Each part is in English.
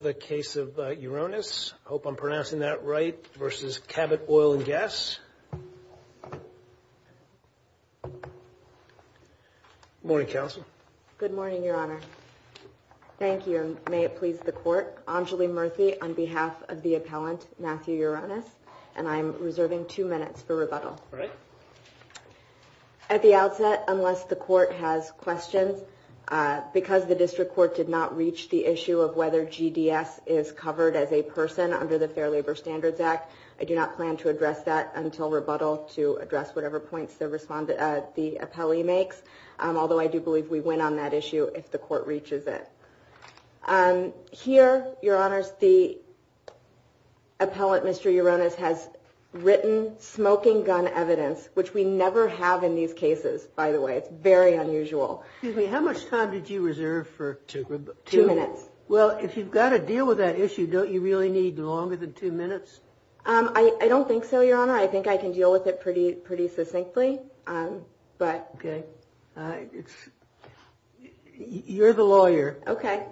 The case of Uronis, I hope I'm pronouncing that right, versus Cabot Oil & Gas. Morning, Counsel. Good morning, Your Honor. Thank you, and may it please the Court. Anjuli Murthy on behalf of the appellant, Matthew Uronis, and I'm reserving two minutes for rebuttal. At the outset, unless the Court has questions, because the District Court did not reach the issue of whether GDS is covered as a person under the Fair Labor Standards Act, I do not plan to address that until rebuttal to address whatever points the appellee makes, although I do believe we win on that issue if the Court reaches it. Here, Your Honors, the appellant, Mr. Uronis, has written smoking gun evidence, which we never have in these cases, by the way. It's very unusual. Excuse me, how much time did you reserve for two minutes? Well, if you've got to deal with that issue, don't you really need longer than two minutes? I don't think so, Your Honor. I think I can deal with it pretty succinctly. Okay. You're the lawyer. Okay.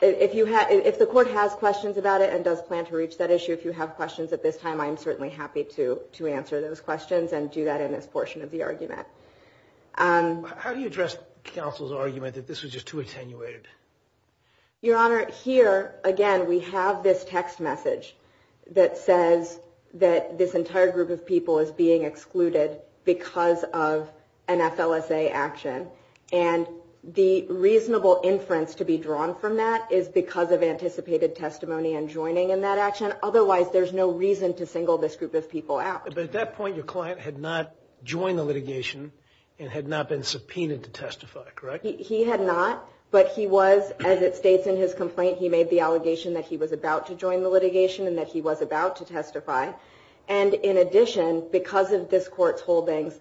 If the Court has questions about it and does plan to reach that issue, if you have questions at this time, I'm certainly happy to answer those questions and do that in this portion of the argument. How do you address counsel's argument that this was just too attenuated? Your Honor, here, again, we have this text message that says that this entire group of people is being excluded because of an FLSA action. And the reasonable inference to be drawn from that is because of anticipated testimony and joining in that action. Otherwise, there's no reason to single this group of people out. But at that point, your client had not joined the litigation and had not been subpoenaed to testify, correct? He had not, but he was, as it states in his complaint, he made the allegation that he was about to join the litigation and that he was about to testify. And in addition, because of this Court's holdings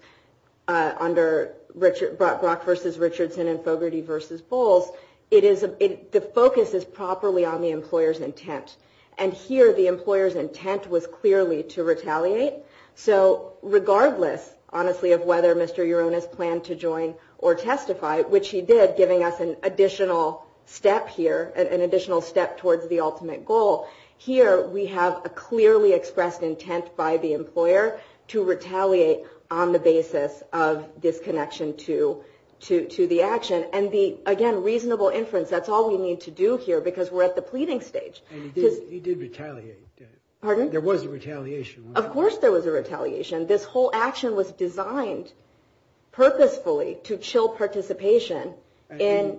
under Brock v. Richardson and Fogarty v. Bowles, the focus is properly on the employer's intent. And here, the employer's intent was clearly to retaliate. So regardless, honestly, of whether Mr. Urona's planned to join or testify, which he did, giving us an additional step here, an additional step towards the ultimate goal, here we have a clearly expressed intent by the employer to retaliate on the basis of disconnection to the action. And the, again, reasonable inference, that's all we need to do here because we're at the pleading stage. He did retaliate. Pardon? There was a retaliation. Of course there was a retaliation. This whole action was designed purposefully to chill participation. And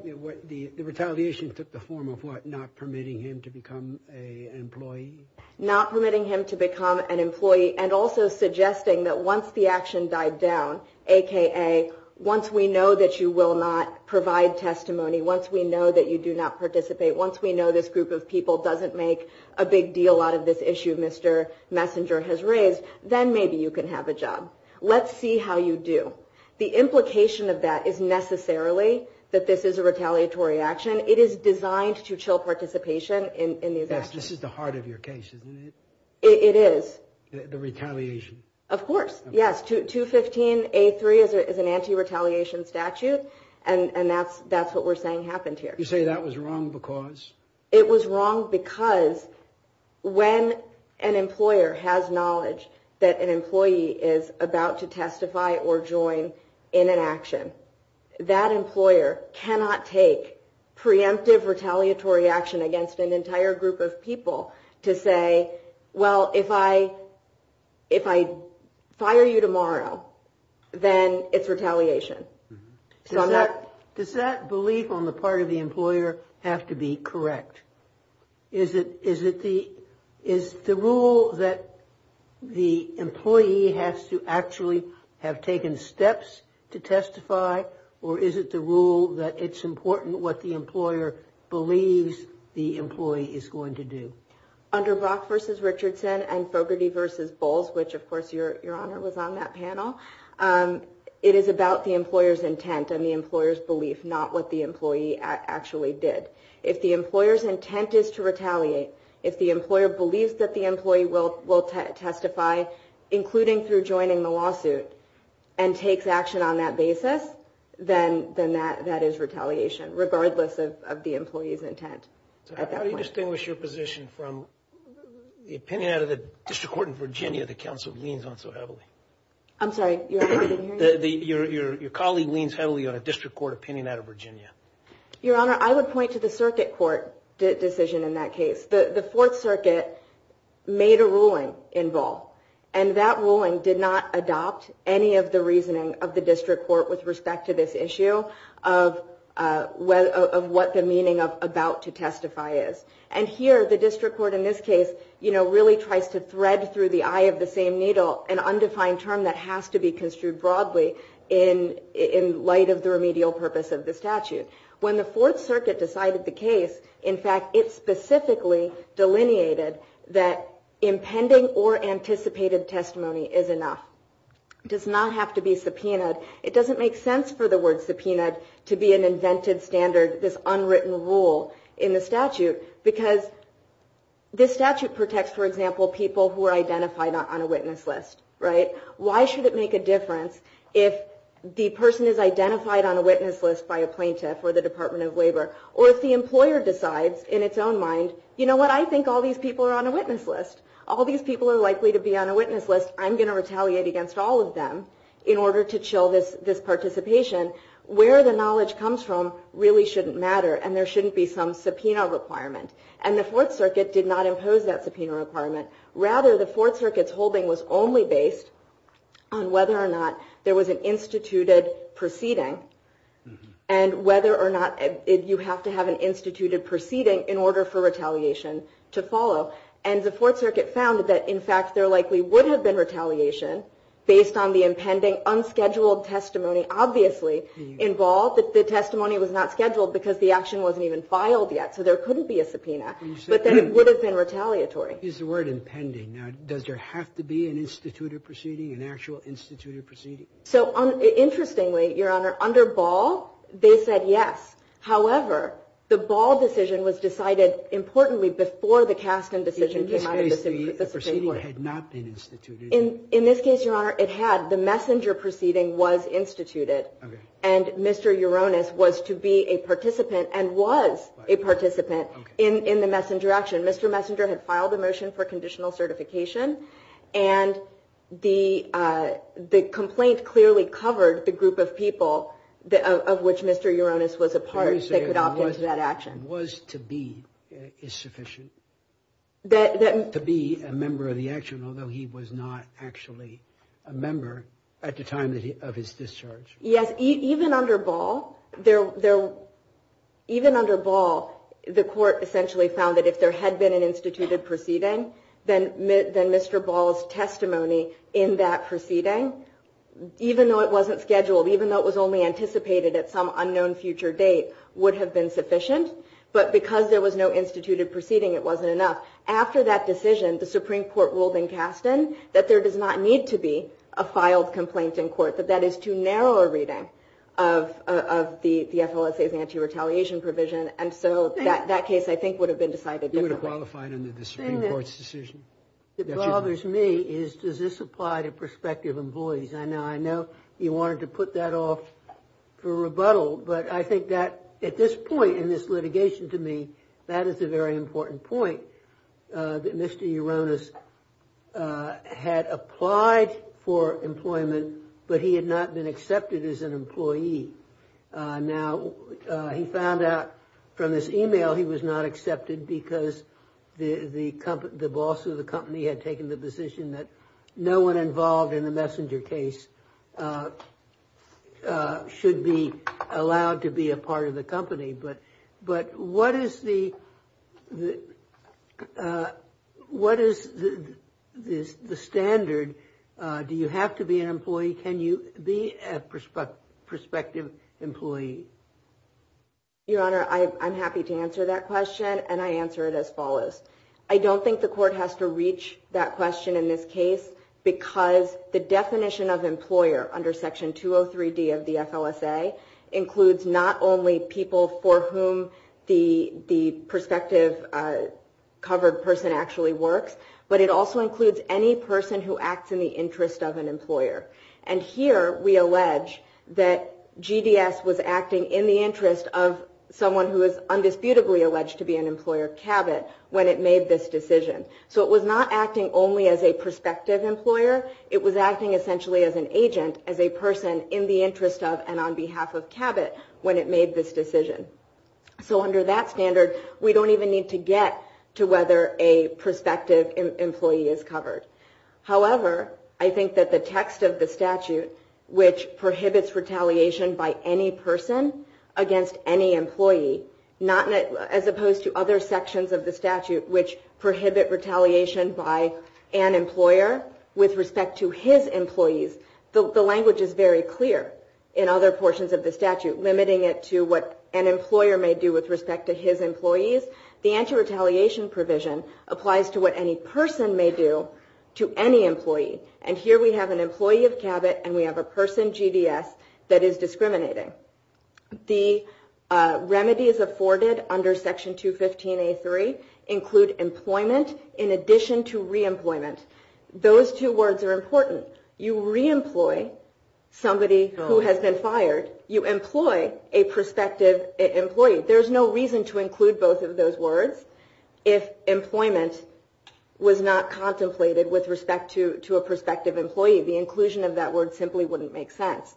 the retaliation took the form of what? Not permitting him to become an employee? Not permitting him to become an employee and also suggesting that once the action died down, a.k.a. once we know that you will not provide testimony, once we know that you do not participate, once we know this group of people doesn't make a big deal out of this issue Mr. Messenger has raised, then maybe you can have a job. Let's see how you do. The implication of that is necessarily that this is a retaliatory action. It is designed to chill participation in these actions. Yes, this is the heart of your case, isn't it? It is. The retaliation. Of course. Yes, 215A3 is an anti-retaliation statute, and that's what we're saying happened here. You say that was wrong because? It was wrong because when an employer has knowledge that an employee is about to testify or join in an action, that employer cannot take preemptive retaliatory action against an entire group of people to say, well, if I fire you tomorrow, then it's retaliation. Does that belief on the part of the employer have to be correct? Is it the rule that the employee has to actually have taken steps to testify, or is it the rule that it's important what the employer believes the employee is going to do? Under Brock v. Richardson and Fogarty v. Bowles, which of course your Honor was on that panel, it is about the employer's intent and the employer's belief, not what the employee actually did. If the employer's intent is to retaliate, if the employer believes that the employee will testify, including through joining the lawsuit, and takes action on that basis, then that is retaliation regardless of the employee's intent. So how do you distinguish your position from the opinion out of the District Court in Virginia that counsel leans on so heavily? I'm sorry, your Honor, I didn't hear you. Your colleague leans heavily on a District Court opinion out of Virginia. Your Honor, I would point to the Circuit Court decision in that case. The Fourth Circuit made a ruling in Ball, and that ruling did not adopt any of the reasoning of the District Court with respect to this issue of what the meaning of about to testify is. And here, the District Court in this case really tries to thread through the eye of the same needle an undefined term that has to be construed broadly in light of the remedial purpose of the statute. When the Fourth Circuit decided the case, in fact, it specifically delineated that impending or anticipated testimony is enough. It does not have to be subpoenaed. It doesn't make sense for the word subpoenaed to be an invented standard, this unwritten rule in the statute, because this statute protects, for example, people who are identified on a witness list, right? Why should it make a difference if the person is identified on a witness list by a plaintiff or the Department of Labor, or if the employer decides in its own mind, you know what, I think all these people are on a witness list. All these people are likely to be on a witness list. I'm going to retaliate against all of them in order to chill this participation. Where the knowledge comes from really shouldn't matter, and there shouldn't be some subpoena requirement. And the Fourth Circuit did not impose that subpoena requirement. Rather, the Fourth Circuit's holding was only based on whether or not there was an instituted proceeding, and whether or not you have to have an instituted proceeding in order for retaliation to follow. And the Fourth Circuit found that, in fact, there likely would have been retaliation based on the impending unscheduled testimony. Obviously, in Ball, the testimony was not scheduled because the action wasn't even filed yet, so there couldn't be a subpoena, but then it would have been retaliatory. Here's the word impending. Now, does there have to be an instituted proceeding, an actual instituted proceeding? So, interestingly, Your Honor, under Ball, they said yes. However, the Ball decision was decided, importantly, before the Kasten decision came out of the Supreme Court. In this case, the proceeding had not been instituted. In this case, Your Honor, it had. The messenger proceeding was instituted, and Mr. Uranus was to be a participant and was a participant in the messenger action. Mr. Messenger had filed a motion for conditional certification, and the complaint clearly covered the group of people of which Mr. Uranus was a part that could opt into that action. Mr. Ball was to be is sufficient to be a member of the action, although he was not actually a member at the time of his discharge. Yes. Even under Ball, the court essentially found that if there had been an instituted proceeding, then Mr. Ball's testimony in that proceeding, even though it wasn't scheduled, even though it was only anticipated at some unknown future date, would have been sufficient. But because there was no instituted proceeding, it wasn't enough. After that decision, the Supreme Court ruled in Kasten that there does not need to be a filed complaint in court, that that is too narrow a reading of the FLSA's anti-retaliation provision. And so that case, I think, would have been decided differently. You would have qualified under the Supreme Court's decision. The thing that bothers me is, does this apply to prospective employees? Now, I know you wanted to put that off for rebuttal, but I think that at this point in this litigation to me, that is a very important point, that Mr. Uranus had applied for employment, but he had not been accepted as an employee. Now, he found out from this email he was not accepted because the boss of the company had taken the decision that no one involved in the messenger case should be allowed to be a part of the company. But what is the standard? Do you have to be an employee? Can you be a prospective employee? Your Honor, I'm happy to answer that question, and I answer it as follows. I don't think the court has to reach that question in this case because the definition of employer under Section 203D of the FLSA includes not only people for whom the prospective covered person actually works, but it also includes any person who acts in the interest of an employer. And here we allege that GDS was acting in the interest of someone who is undisputably alleged to be an employer, CABIT, when it made this decision. So it was not acting only as a prospective employer. It was acting essentially as an agent, as a person in the interest of and on behalf of CABIT when it made this decision. So under that standard, we don't even need to get to whether a prospective employee is covered. However, I think that the text of the statute, which prohibits retaliation by any person against any employee, as opposed to other sections of the statute which prohibit retaliation by an employer with respect to his employees, the language is very clear in other portions of the statute, limiting it to what an employer may do with respect to his employees. The anti-retaliation provision applies to what any person may do to any employee. And here we have an employee of CABIT, and we have a person, GDS, that is discriminating. The remedies afforded under Section 215A3 include employment in addition to re-employment. Those two words are important. You re-employ somebody who has been fired. You employ a prospective employee. There's no reason to include both of those words if employment was not contemplated with respect to a prospective employee. The inclusion of that word simply wouldn't make sense.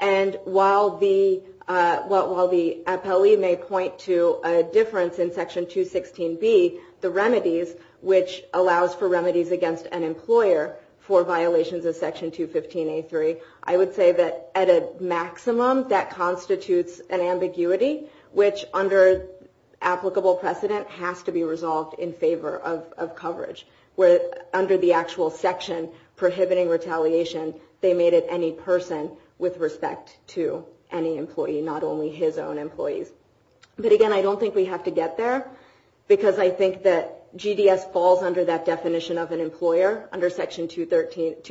And while the APELE may point to a difference in Section 216B, the remedies, which allows for remedies against an employer for violations of Section 215A3, I would say that at a maximum that constitutes an ambiguity, which under applicable precedent has to be resolved in favor of coverage. Where under the actual section prohibiting retaliation, they made it any person with respect to any employee, not only his own employees. But again, I don't think we have to get there, because I think that GDS falls under that definition of an employer, under Section 203D,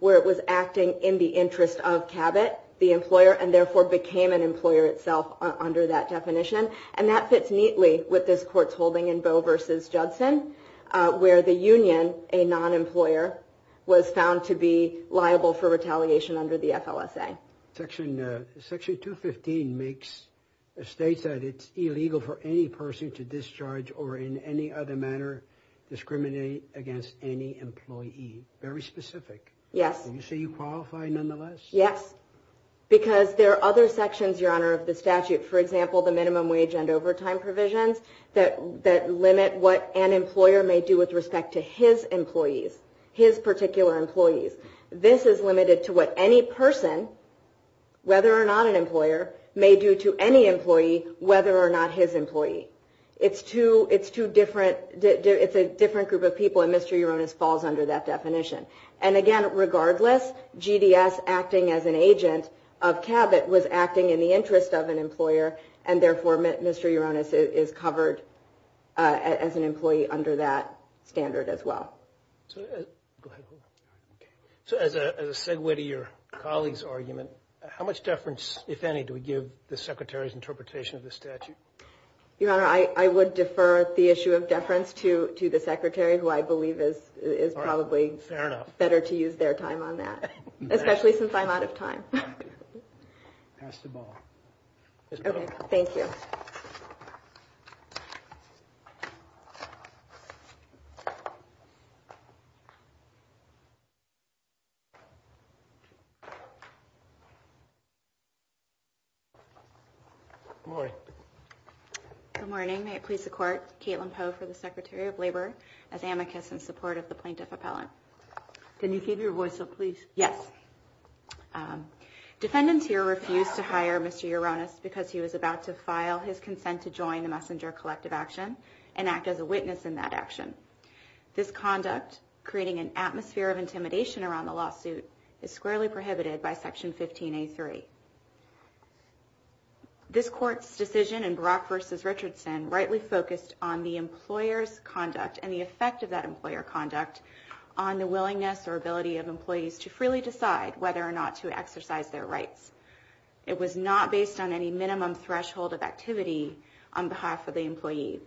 where it was acting in the interest of CABIT, the employer, and therefore became an employer itself under that definition. And that fits neatly with this court's holding in Boe v. Judson, where the union, a non-employer, was found to be liable for retaliation under the FLSA. Section 215 states that it's illegal for any person to discharge or in any other manner discriminate against any employee. Very specific. Yes. So you say you qualify nonetheless? Yes. Because there are other sections, Your Honor, of the statute. For example, the minimum wage and overtime provisions that limit what an employer may do with respect to his employees, his particular employees. This is limited to what any person, whether or not an employer, may do to any employee, whether or not his employee. It's a different group of people, and Mr. Uranus falls under that definition. And, again, regardless, GDS acting as an agent of CABIT was acting in the interest of an employer, and therefore Mr. Uranus is covered as an employee under that standard as well. So as a segue to your colleague's argument, how much deference, if any, do we give the Secretary's interpretation of the statute? Your Honor, I would defer the issue of deference to the Secretary, who I believe is probably… Fair enough. …better to use their time on that, especially since I'm out of time. Pass the ball. Okay. Thank you. Good morning. Good morning. May it please the Court, Caitlin Poe for the Secretary of Labor, as amicus in support of the plaintiff appellant. Can you keep your voice up, please? Yes. Defendants here refuse to hire Mr. Uranus because he was about to file his consent to join the messenger collective action and act as a witness in that action. This conduct, creating an atmosphere of intimidation around the lawsuit, is squarely prohibited by Section 15A3. This Court's decision in Brock v. Richardson rightly focused on the employer's conduct and the effect of that employer conduct on the willingness or ability of employees to freely decide whether or not to exercise their rights. It was not based on any minimum threshold of activity on behalf of the employee.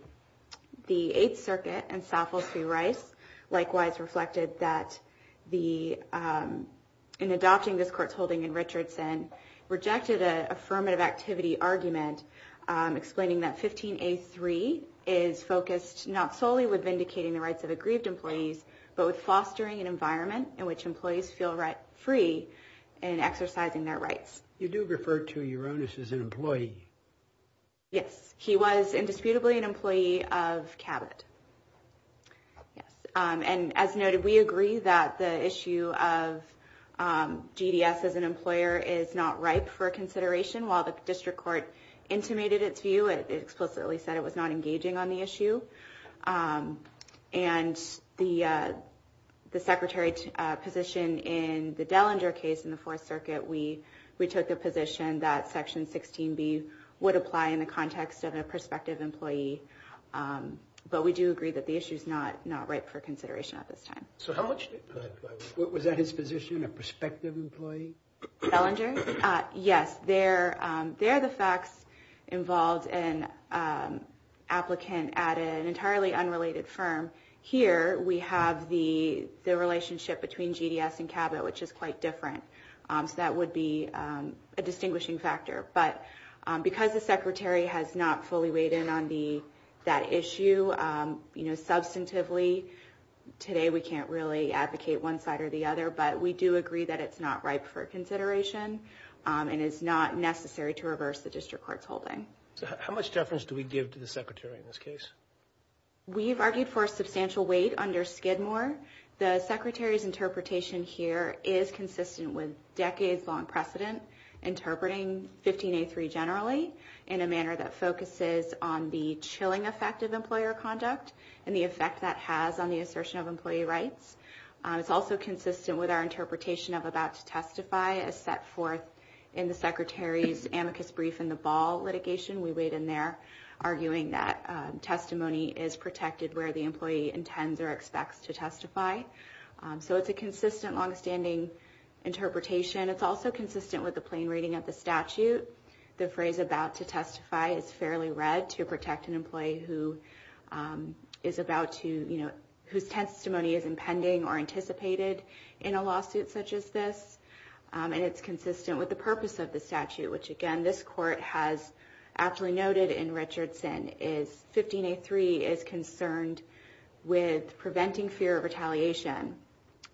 The Eighth Circuit and Southwell v. Rice likewise reflected that in adopting this Court's holding in Richardson, rejected an affirmative activity argument explaining that 15A3 is focused not solely with vindicating the rights of aggrieved employees, but with fostering an environment in which employees feel free in exercising their rights. You do refer to Uranus as an employee. Yes. He was indisputably an employee of Cabot. Yes. And as noted, we agree that the issue of GDS as an employer is not ripe for consideration. While the District Court intimated its view, it explicitly said it was not engaging on the issue. And the Secretary's position in the Dellinger case in the Fourth Circuit, we took the position that Section 16B would apply in the context of a prospective employee. But we do agree that the issue is not ripe for consideration at this time. Was that his position, a prospective employee? Dellinger? Yes. They're the facts involved in an applicant at an entirely unrelated firm. Here, we have the relationship between GDS and Cabot, which is quite different. So that would be a distinguishing factor. But because the Secretary has not fully weighed in on that issue substantively, today we can't really advocate one side or the other. But we do agree that it's not ripe for consideration and it's not necessary to reverse the District Court's holding. How much deference do we give to the Secretary in this case? We've argued for a substantial weight under Skidmore. The Secretary's interpretation here is consistent with decades-long precedent, interpreting 15A3 generally in a manner that focuses on the chilling effect of employer conduct and the effect that has on the assertion of employee rights. It's also consistent with our interpretation of about to testify as set forth in the Secretary's amicus brief in the Ball litigation. We weighed in there, arguing that testimony is protected where the employee intends or expects to testify. So it's a consistent, longstanding interpretation. It's also consistent with the plain reading of the statute. The phrase about to testify is fairly read to protect an employee whose testimony is impending or anticipated in a lawsuit such as this. And it's consistent with the purpose of the statute, which again, this Court has aptly noted in Richardson, is 15A3 is concerned with preventing fear of retaliation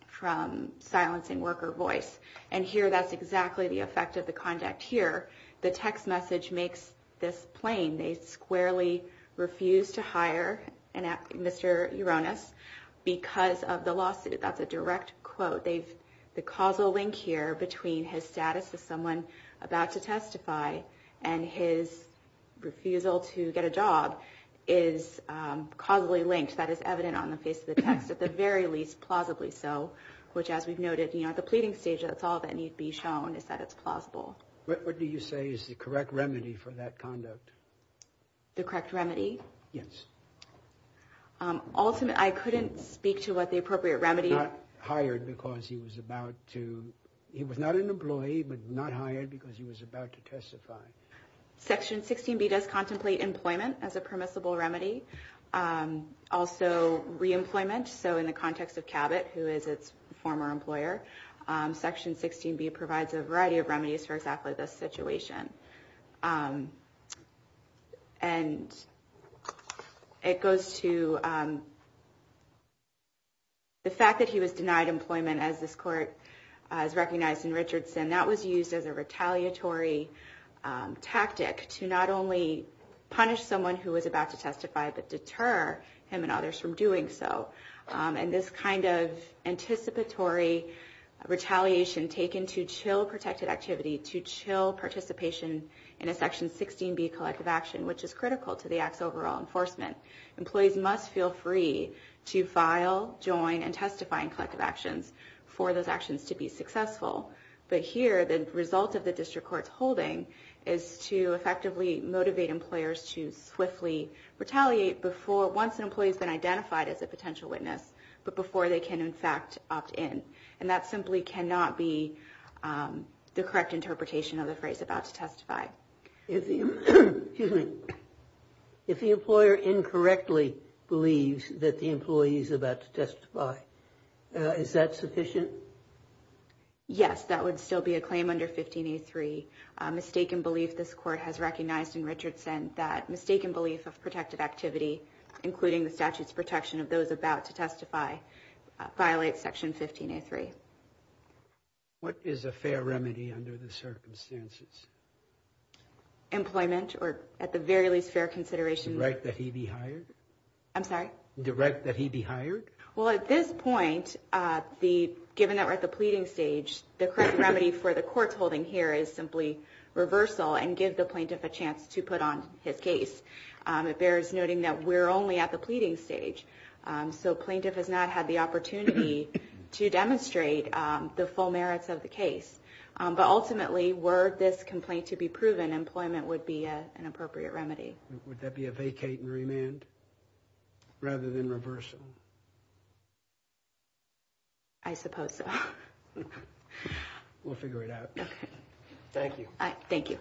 from silencing worker voice. And here, that's exactly the effect of the conduct here. The text message makes this plain. They squarely refuse to hire Mr. Uranus because of the lawsuit. That's a direct quote. The causal link here between his status as someone about to testify and his refusal to get a job is causally linked. That is evident on the face of the text, at the very least, plausibly so, which as we've noted at the pleading stage, that's all that needs to be shown is that it's plausible. What do you say is the correct remedy for that conduct? The correct remedy? Yes. Ultimately, I couldn't speak to what the appropriate remedy is. He was not hired because he was about to. He was not an employee, but not hired because he was about to testify. Section 16B does contemplate employment as a permissible remedy. Also, reemployment. So in the context of Cabot, who is its former employer, Section 16B provides a variety of remedies for exactly this situation. And it goes to the fact that he was denied employment, as this court has recognized in Richardson. That was used as a retaliatory tactic to not only punish someone who was about to testify, but deter him and others from doing so. And this kind of anticipatory retaliation taken to chill protected activity, to chill participation in a Section 16B collective action, which is critical to the Act's overall enforcement. Employees must feel free to file, join, and testify in collective actions for those actions to be successful. But here, the result of the district court's holding is to effectively motivate employers to swiftly retaliate once an employee has been identified as a potential witness, but before they can, in fact, opt in. And that simply cannot be the correct interpretation of the phrase, about to testify. If the employer incorrectly believes that the employee is about to testify, is that sufficient? Yes, that would still be a claim under 15A3. Mistaken belief, this court has recognized in Richardson, that mistaken belief of protected activity, including the statute's protection of those about to testify, violates Section 15A3. What is a fair remedy under the circumstances? Employment, or at the very least, fair consideration. The right that he be hired? I'm sorry? The right that he be hired? Well, at this point, given that we're at the pleading stage, the correct remedy for the court's holding here is simply reversal and give the plaintiff a chance to put on his case. It bears noting that we're only at the pleading stage, so plaintiff has not had the opportunity to demonstrate the full merits of the case. But ultimately, were this complaint to be proven, employment would be an appropriate remedy. Would that be a vacate and remand, rather than reversal? I suppose so. We'll figure it out. Okay. Thank you. Thank you.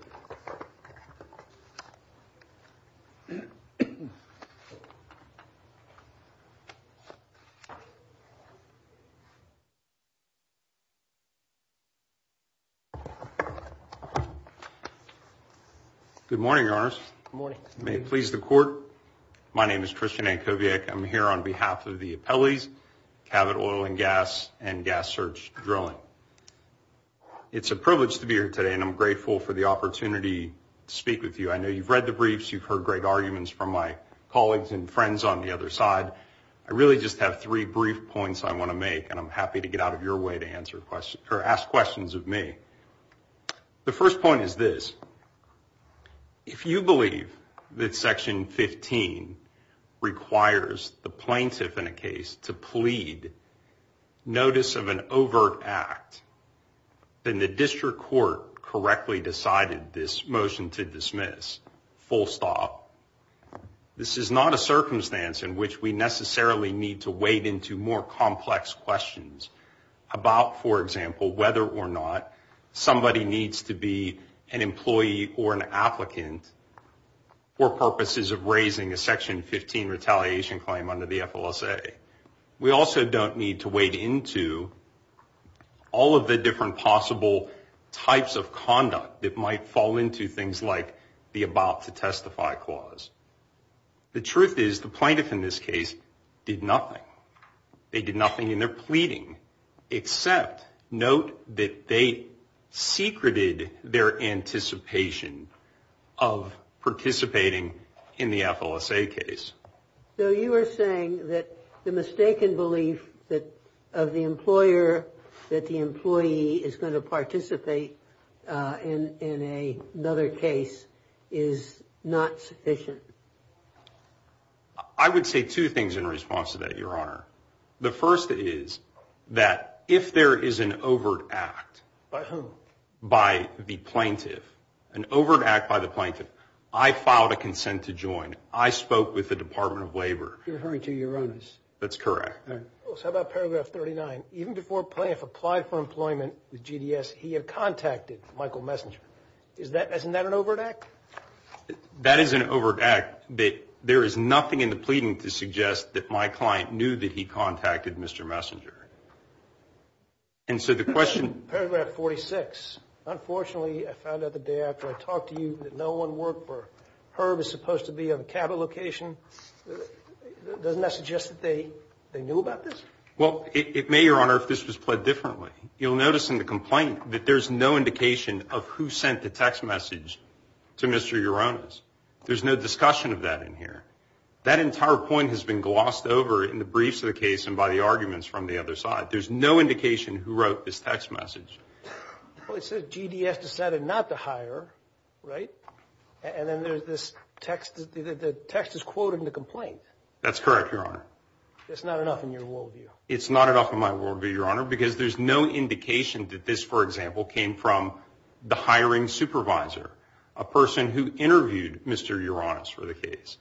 Good morning, Your Honors. Good morning. May it please the court, my name is Christian Ankoviak. I'm here on behalf of the appellees, Cabot Oil and Gas and Gas Search Drilling. It's a privilege to be here today, and I'm grateful for the opportunity to speak with you. I know you've read the briefs, you've heard great arguments from my colleagues and friends on the other side. I really just have three brief points I want to make, and I'm happy to get out of your way to ask questions of me. The first point is this. If you believe that Section 15 requires the plaintiff in a case to plead notice of an overt act, then the district court correctly decided this motion to dismiss, full stop. This is not a circumstance in which we necessarily need to wade into more complex questions about, for example, whether or not somebody needs to be an employee or an applicant for purposes of raising a Section 15 retaliation claim under the FLSA. We also don't need to wade into all of the different possible types of conduct that might fall into things like the about to testify clause. The truth is the plaintiff in this case did nothing. They did nothing in their pleading except note that they secreted their anticipation of participating in the FLSA case. So you are saying that the mistaken belief of the employer that the employee is going to participate in another case is not sufficient? I would say two things in response to that, Your Honor. The first is that if there is an overt act. By whom? By the plaintiff. An overt act by the plaintiff. I filed a consent to join. I spoke with the Department of Labor. You're referring to Uranus. That's correct. How about Paragraph 39? Even before Plaintiff applied for employment with GDS, he had contacted Michael Messenger. Isn't that an overt act? That is an overt act. There is nothing in the pleading to suggest that my client knew that he contacted Mr. Messenger. And so the question. Paragraph 46. Unfortunately, I found out the day after I talked to you that no one worked for Herb is supposed to be on a capital location. Doesn't that suggest that they knew about this? Well, it may, Your Honor, if this was pled differently. You'll notice in the complaint that there's no indication of who sent the text message to Mr. Uranus. There's no discussion of that in here. That entire point has been glossed over in the briefs of the case and by the arguments from the other side. There's no indication who wrote this text message. Well, it says GDS decided not to hire, right? And then there's this text. The text is quoted in the complaint. That's correct, Your Honor. That's not enough in your worldview. It's not enough in my worldview, Your Honor, because there's no indication that this, for example, came from the hiring supervisor, a person who interviewed Mr. Uranus for the case.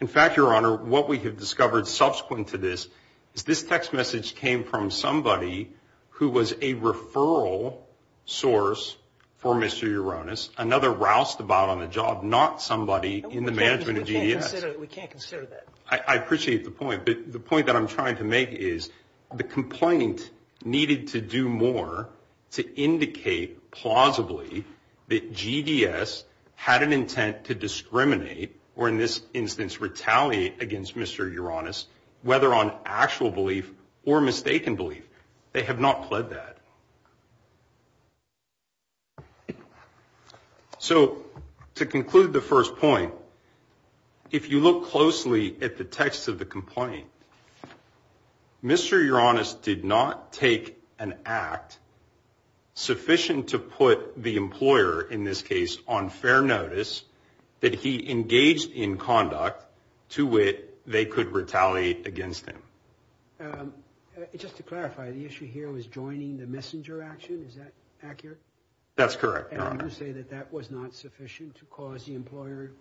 In fact, Your Honor, what we have discovered subsequent to this is this text message came from somebody who was a referral source for Mr. Uranus, another roused about on the job, not somebody in the management of GDS. We can't consider that. I appreciate the point. But the point that I'm trying to make is the complaint needed to do more to indicate plausibly that GDS had an intent to discriminate or, in this instance, retaliate against Mr. Uranus, whether on actual belief or mistaken belief. They have not pled that. So to conclude the first point, if you look closely at the text of the complaint, Mr. Uranus did not take an act sufficient to put the employer, in this case, on fair notice that he engaged in conduct to which they could retaliate against him. Just to clarify, the issue here was joining the messenger action. Is that accurate? That's correct, Your Honor. And you say that that was not sufficient to cause the employer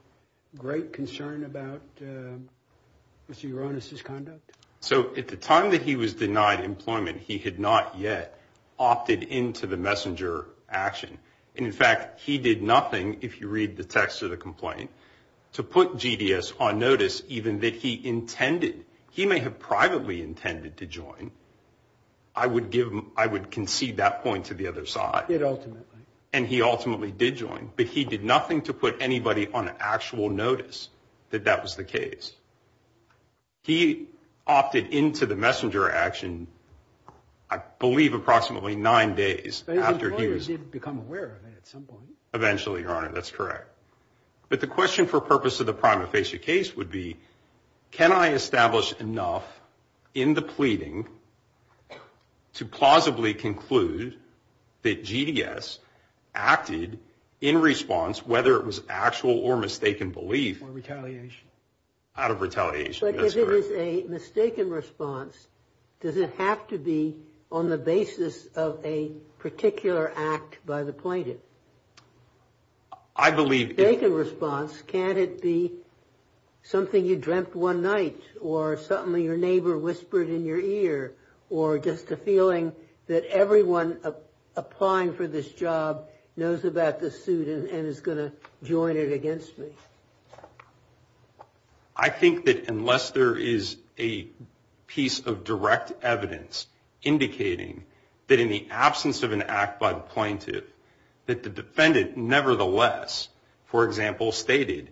great concern about Mr. Uranus' conduct? So at the time that he was denied employment, he had not yet opted into the messenger action. And, in fact, he did nothing, if you read the text of the complaint, to put GDS on notice even that he intended. He may have privately intended to join. I would concede that point to the other side. He did ultimately. And he ultimately did join. But he did nothing to put anybody on actual notice that that was the case. He opted into the messenger action, I believe, approximately nine days after he was… But his lawyers did become aware of it at some point. Eventually, Your Honor. That's correct. But the question for purpose of the prima facie case would be, can I establish enough in the pleading to plausibly conclude that GDS acted in response, whether it was actual or mistaken belief… Or retaliation. Out of retaliation. That's correct. But if it was a mistaken response, does it have to be on the basis of a particular act by the plaintiff? I believe… Mistaken response. Can't it be something you dreamt one night or something your neighbor whispered in your ear or just a feeling that everyone applying for this job knows about this suit and is going to join it against me? I think that unless there is a piece of direct evidence indicating that in the absence of an act by the plaintiff, that the defendant nevertheless, for example, stated,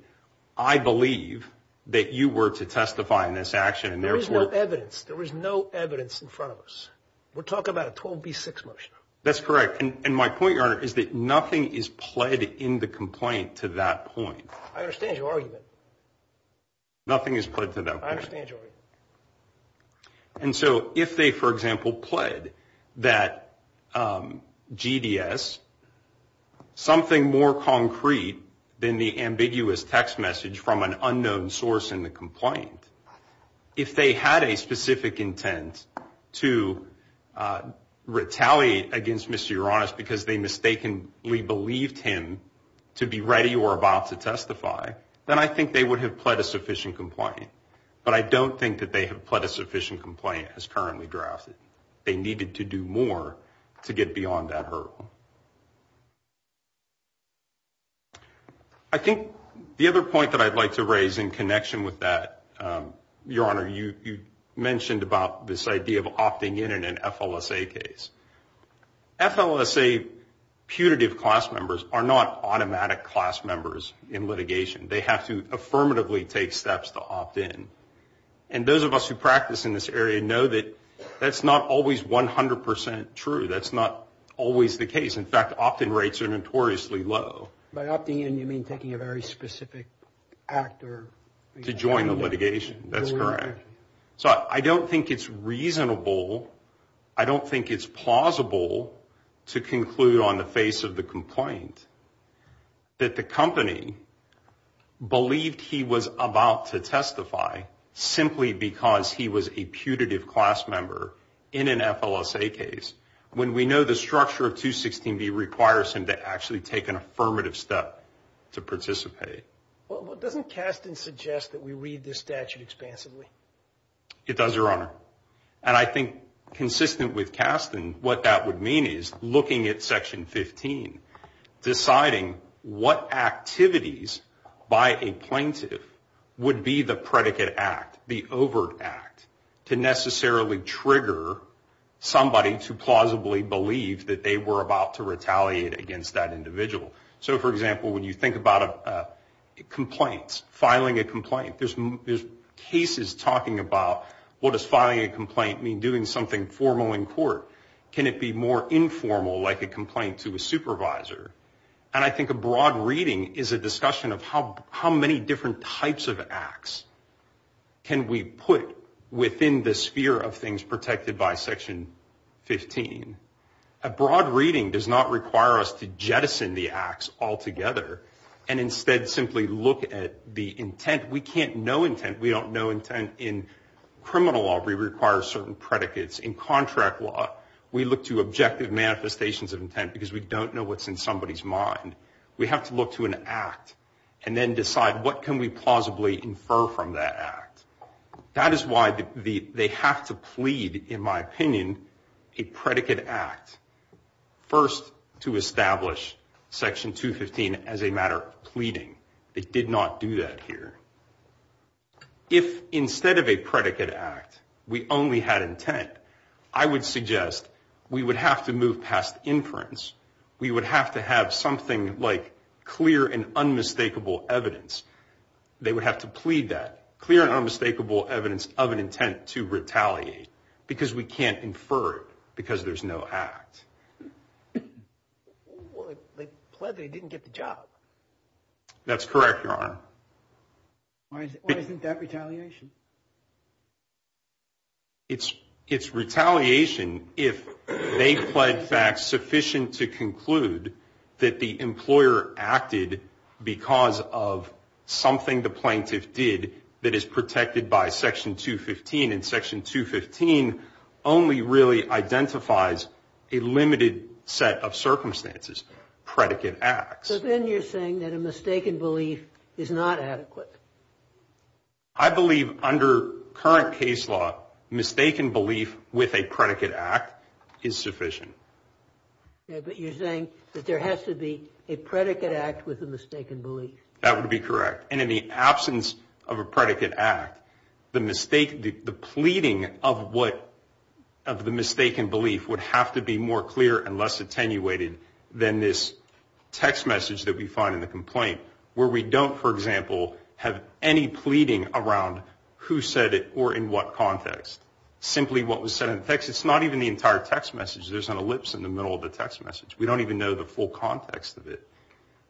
I believe that you were to testify in this action and therefore… There is no evidence. There is no evidence in front of us. We're talking about a 12B6 motion. That's correct. And my point, Your Honor, is that nothing is pled in the complaint to that point. I understand your argument. Nothing is pled to that point. I understand your argument. And so if they, for example, pled that GDS, something more concrete than the ambiguous text message from an unknown source in the complaint, if they had a specific intent to retaliate against Mr. Uranus because they mistakenly believed him to be ready or about to testify, then I think they would have pled a sufficient complaint. But I don't think that they have pled a sufficient complaint as currently drafted. They needed to do more to get beyond that hurdle. I think the other point that I'd like to raise in connection with that, Your Honor, you mentioned about this idea of opting in in an FLSA case. FLSA putative class members are not automatic class members in litigation. They have to affirmatively take steps to opt in. And those of us who practice in this area know that that's not always 100% true. That's not always the case. In fact, opt-in rates are notoriously low. By opting in, you mean taking a very specific act or... To join the litigation. That's correct. So I don't think it's reasonable. I don't think it's plausible to conclude on the face of the complaint that the company believed he was about to testify simply because he was a putative class member in an FLSA case, when we know the structure of 216B requires him to actually take an affirmative step to participate. Well, doesn't Kasten suggest that we read this statute expansively? It does, Your Honor. And I think consistent with Kasten, what that would mean is looking at Section 15, deciding what activities by a plaintiff would be the predicate act, the overt act, to necessarily trigger somebody to plausibly believe that they were about to retaliate against that individual. So, for example, when you think about complaints, filing a complaint, there's cases talking about, well, does filing a complaint mean doing something formal in court? Can it be more informal, like a complaint to a supervisor? And I think a broad reading is a discussion of how many different types of acts can we put within the sphere of things protected by Section 15. A broad reading does not require us to jettison the acts altogether and instead simply look at the intent. We can't know intent. We don't know intent in criminal law. We require certain predicates. In contract law, we look to objective manifestations of intent because we don't know what's in somebody's mind. We have to look to an act and then decide what can we plausibly infer from that act. That is why they have to plead, in my opinion, a predicate act. First, to establish Section 215 as a matter of pleading. It did not do that here. If instead of a predicate act, we only had intent, I would suggest we would have to move past inference. We would have to have something like clear and unmistakable evidence. They would have to plead that. Clear and unmistakable evidence of an intent to retaliate because we can't infer it because there's no act. Well, they plead that he didn't get the job. That's correct, Your Honor. Why isn't that retaliation? It's retaliation if they plead facts sufficient to conclude that the employer acted because of something the plaintiff did that is protected by Section 215. And Section 215 only really identifies a limited set of circumstances, predicate acts. But then you're saying that a mistaken belief is not adequate. I believe under current case law, mistaken belief with a predicate act is sufficient. But you're saying that there has to be a predicate act with a mistaken belief. That would be correct. And in the absence of a predicate act, the pleading of the mistaken belief would have to be more clear and less attenuated than this text message that we find in the complaint where we don't, for example, have any pleading around who said it or in what context. Simply what was said in the text. It's not even the entire text message. There's an ellipse in the middle of the text message. We don't even know the full context of it.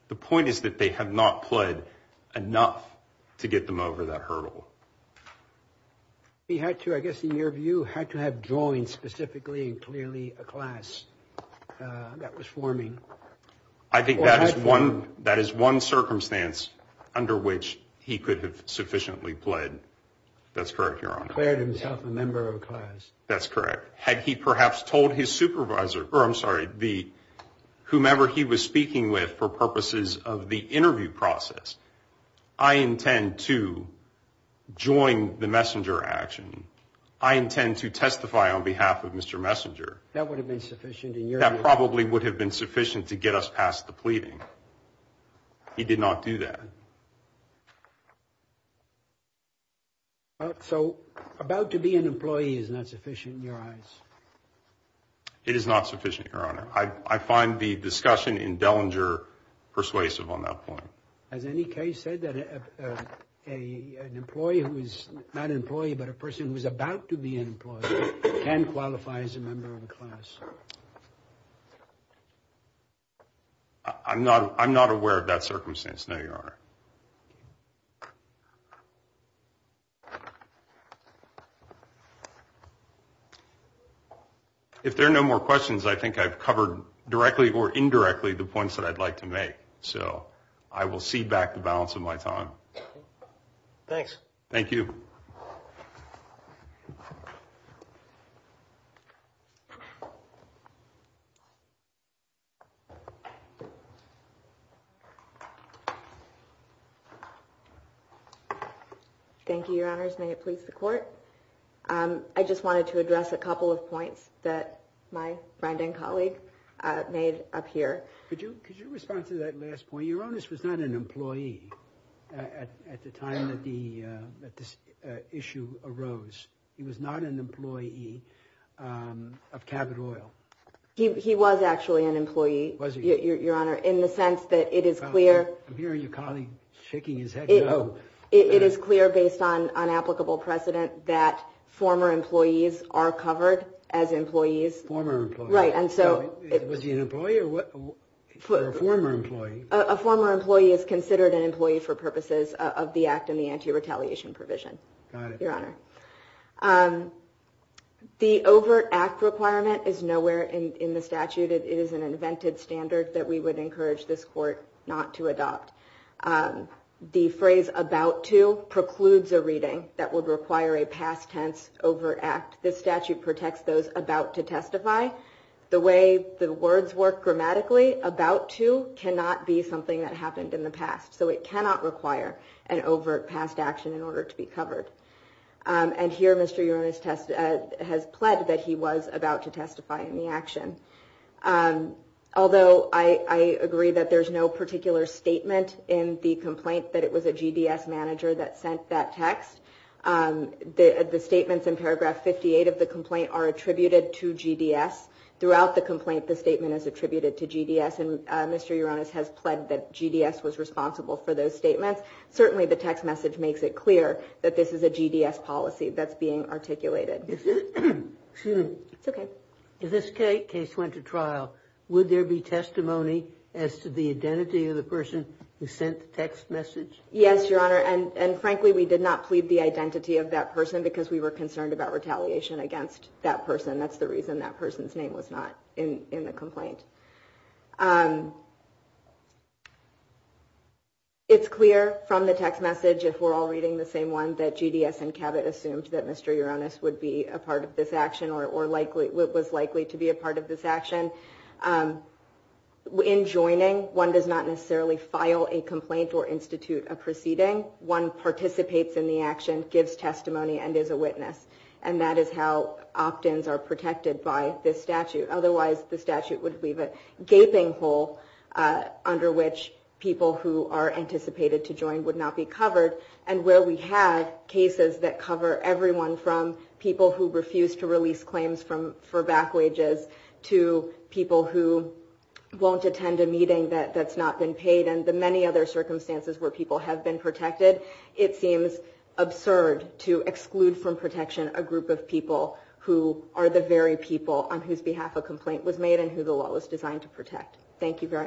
The point is that they have not pled enough to get them over that hurdle. He had to, I guess, in your view, had to have joined specifically and clearly a class that was forming. I think that is one circumstance under which he could have sufficiently pled. That's correct, Your Honor. Pled himself a member of a class. That's correct. Had he perhaps told his supervisor or I'm sorry, the whomever he was speaking with for purposes of the interview process, I intend to join the messenger action. I intend to testify on behalf of Mr. Messenger. That would have been sufficient. And you probably would have been sufficient to get us past the pleading. He did not do that. So about to be an employee is not sufficient in your eyes. It is not sufficient, Your Honor. I find the discussion in Dellinger persuasive on that point. Has any case said that an employee who is not an employee, but a person who is about to be an employee can qualify as a member of the class? I'm not I'm not aware of that circumstance. No, Your Honor. If there are no more questions, I think I've covered directly or indirectly the points that I'd like to make. So I will cede back the balance of my time. Thanks. Thank you. Thank you, Your Honors. May it please the court. I just wanted to address a couple of points that my friend and colleague made up here. Could you could you respond to that last point? Your Honor's was not an employee at the time that the issue arose. He was not an employee of Cabot Oil. He was actually an employee. Was he? Your Honor, in the sense that it is clear. I'm hearing your colleague shaking his head. It is clear based on unapplicable precedent that former employees are covered as employees. Former right. And so it was an employee or a former employee. A former employee is considered an employee for purposes of the act and the anti retaliation provision. Your Honor. The overt act requirement is nowhere in the statute. It is an invented standard that we would encourage this court not to adopt. The phrase about to precludes a reading that would require a past tense over act. This statute protects those about to testify. The way the words work grammatically about to cannot be something that happened in the past. So it cannot require an overt past action in order to be covered. And here, Mr. Your Honor's test has pled that he was about to testify in the action. Although I agree that there is no particular statement in the complaint that it was a GDS manager that sent that text. The statements in paragraph 58 of the complaint are attributed to GDS. Throughout the complaint, the statement is attributed to GDS. And Mr. Your Honor's has pled that GDS was responsible for those statements. Certainly, the text message makes it clear that this is a GDS policy that's being articulated. OK. This case went to trial. Would there be testimony as to the identity of the person who sent the text message? Yes, Your Honor. And frankly, we did not plead the identity of that person because we were concerned about retaliation against that person. That's the reason that person's name was not in the complaint. It's clear from the text message, if we're all reading the same one, that GDS and Cabot assumed that Mr. Your Honor's would be a part of this action or was likely to be a part of this action. In joining, one does not necessarily file a complaint or institute a proceeding. One participates in the action, gives testimony, and is a witness. And that is how opt-ins are protected by this statute. Otherwise, the statute would leave a gaping hole under which people who are anticipated to join would not be covered. And where we had cases that cover everyone from people who refuse to release claims for back wages to people who won't attend a meeting that's not been paid and the many other circumstances where people have been protected, it seems absurd to exclude from protection a group of people who are the very people on whose behalf a complaint was made and who the law was designed to protect. Thank you very much.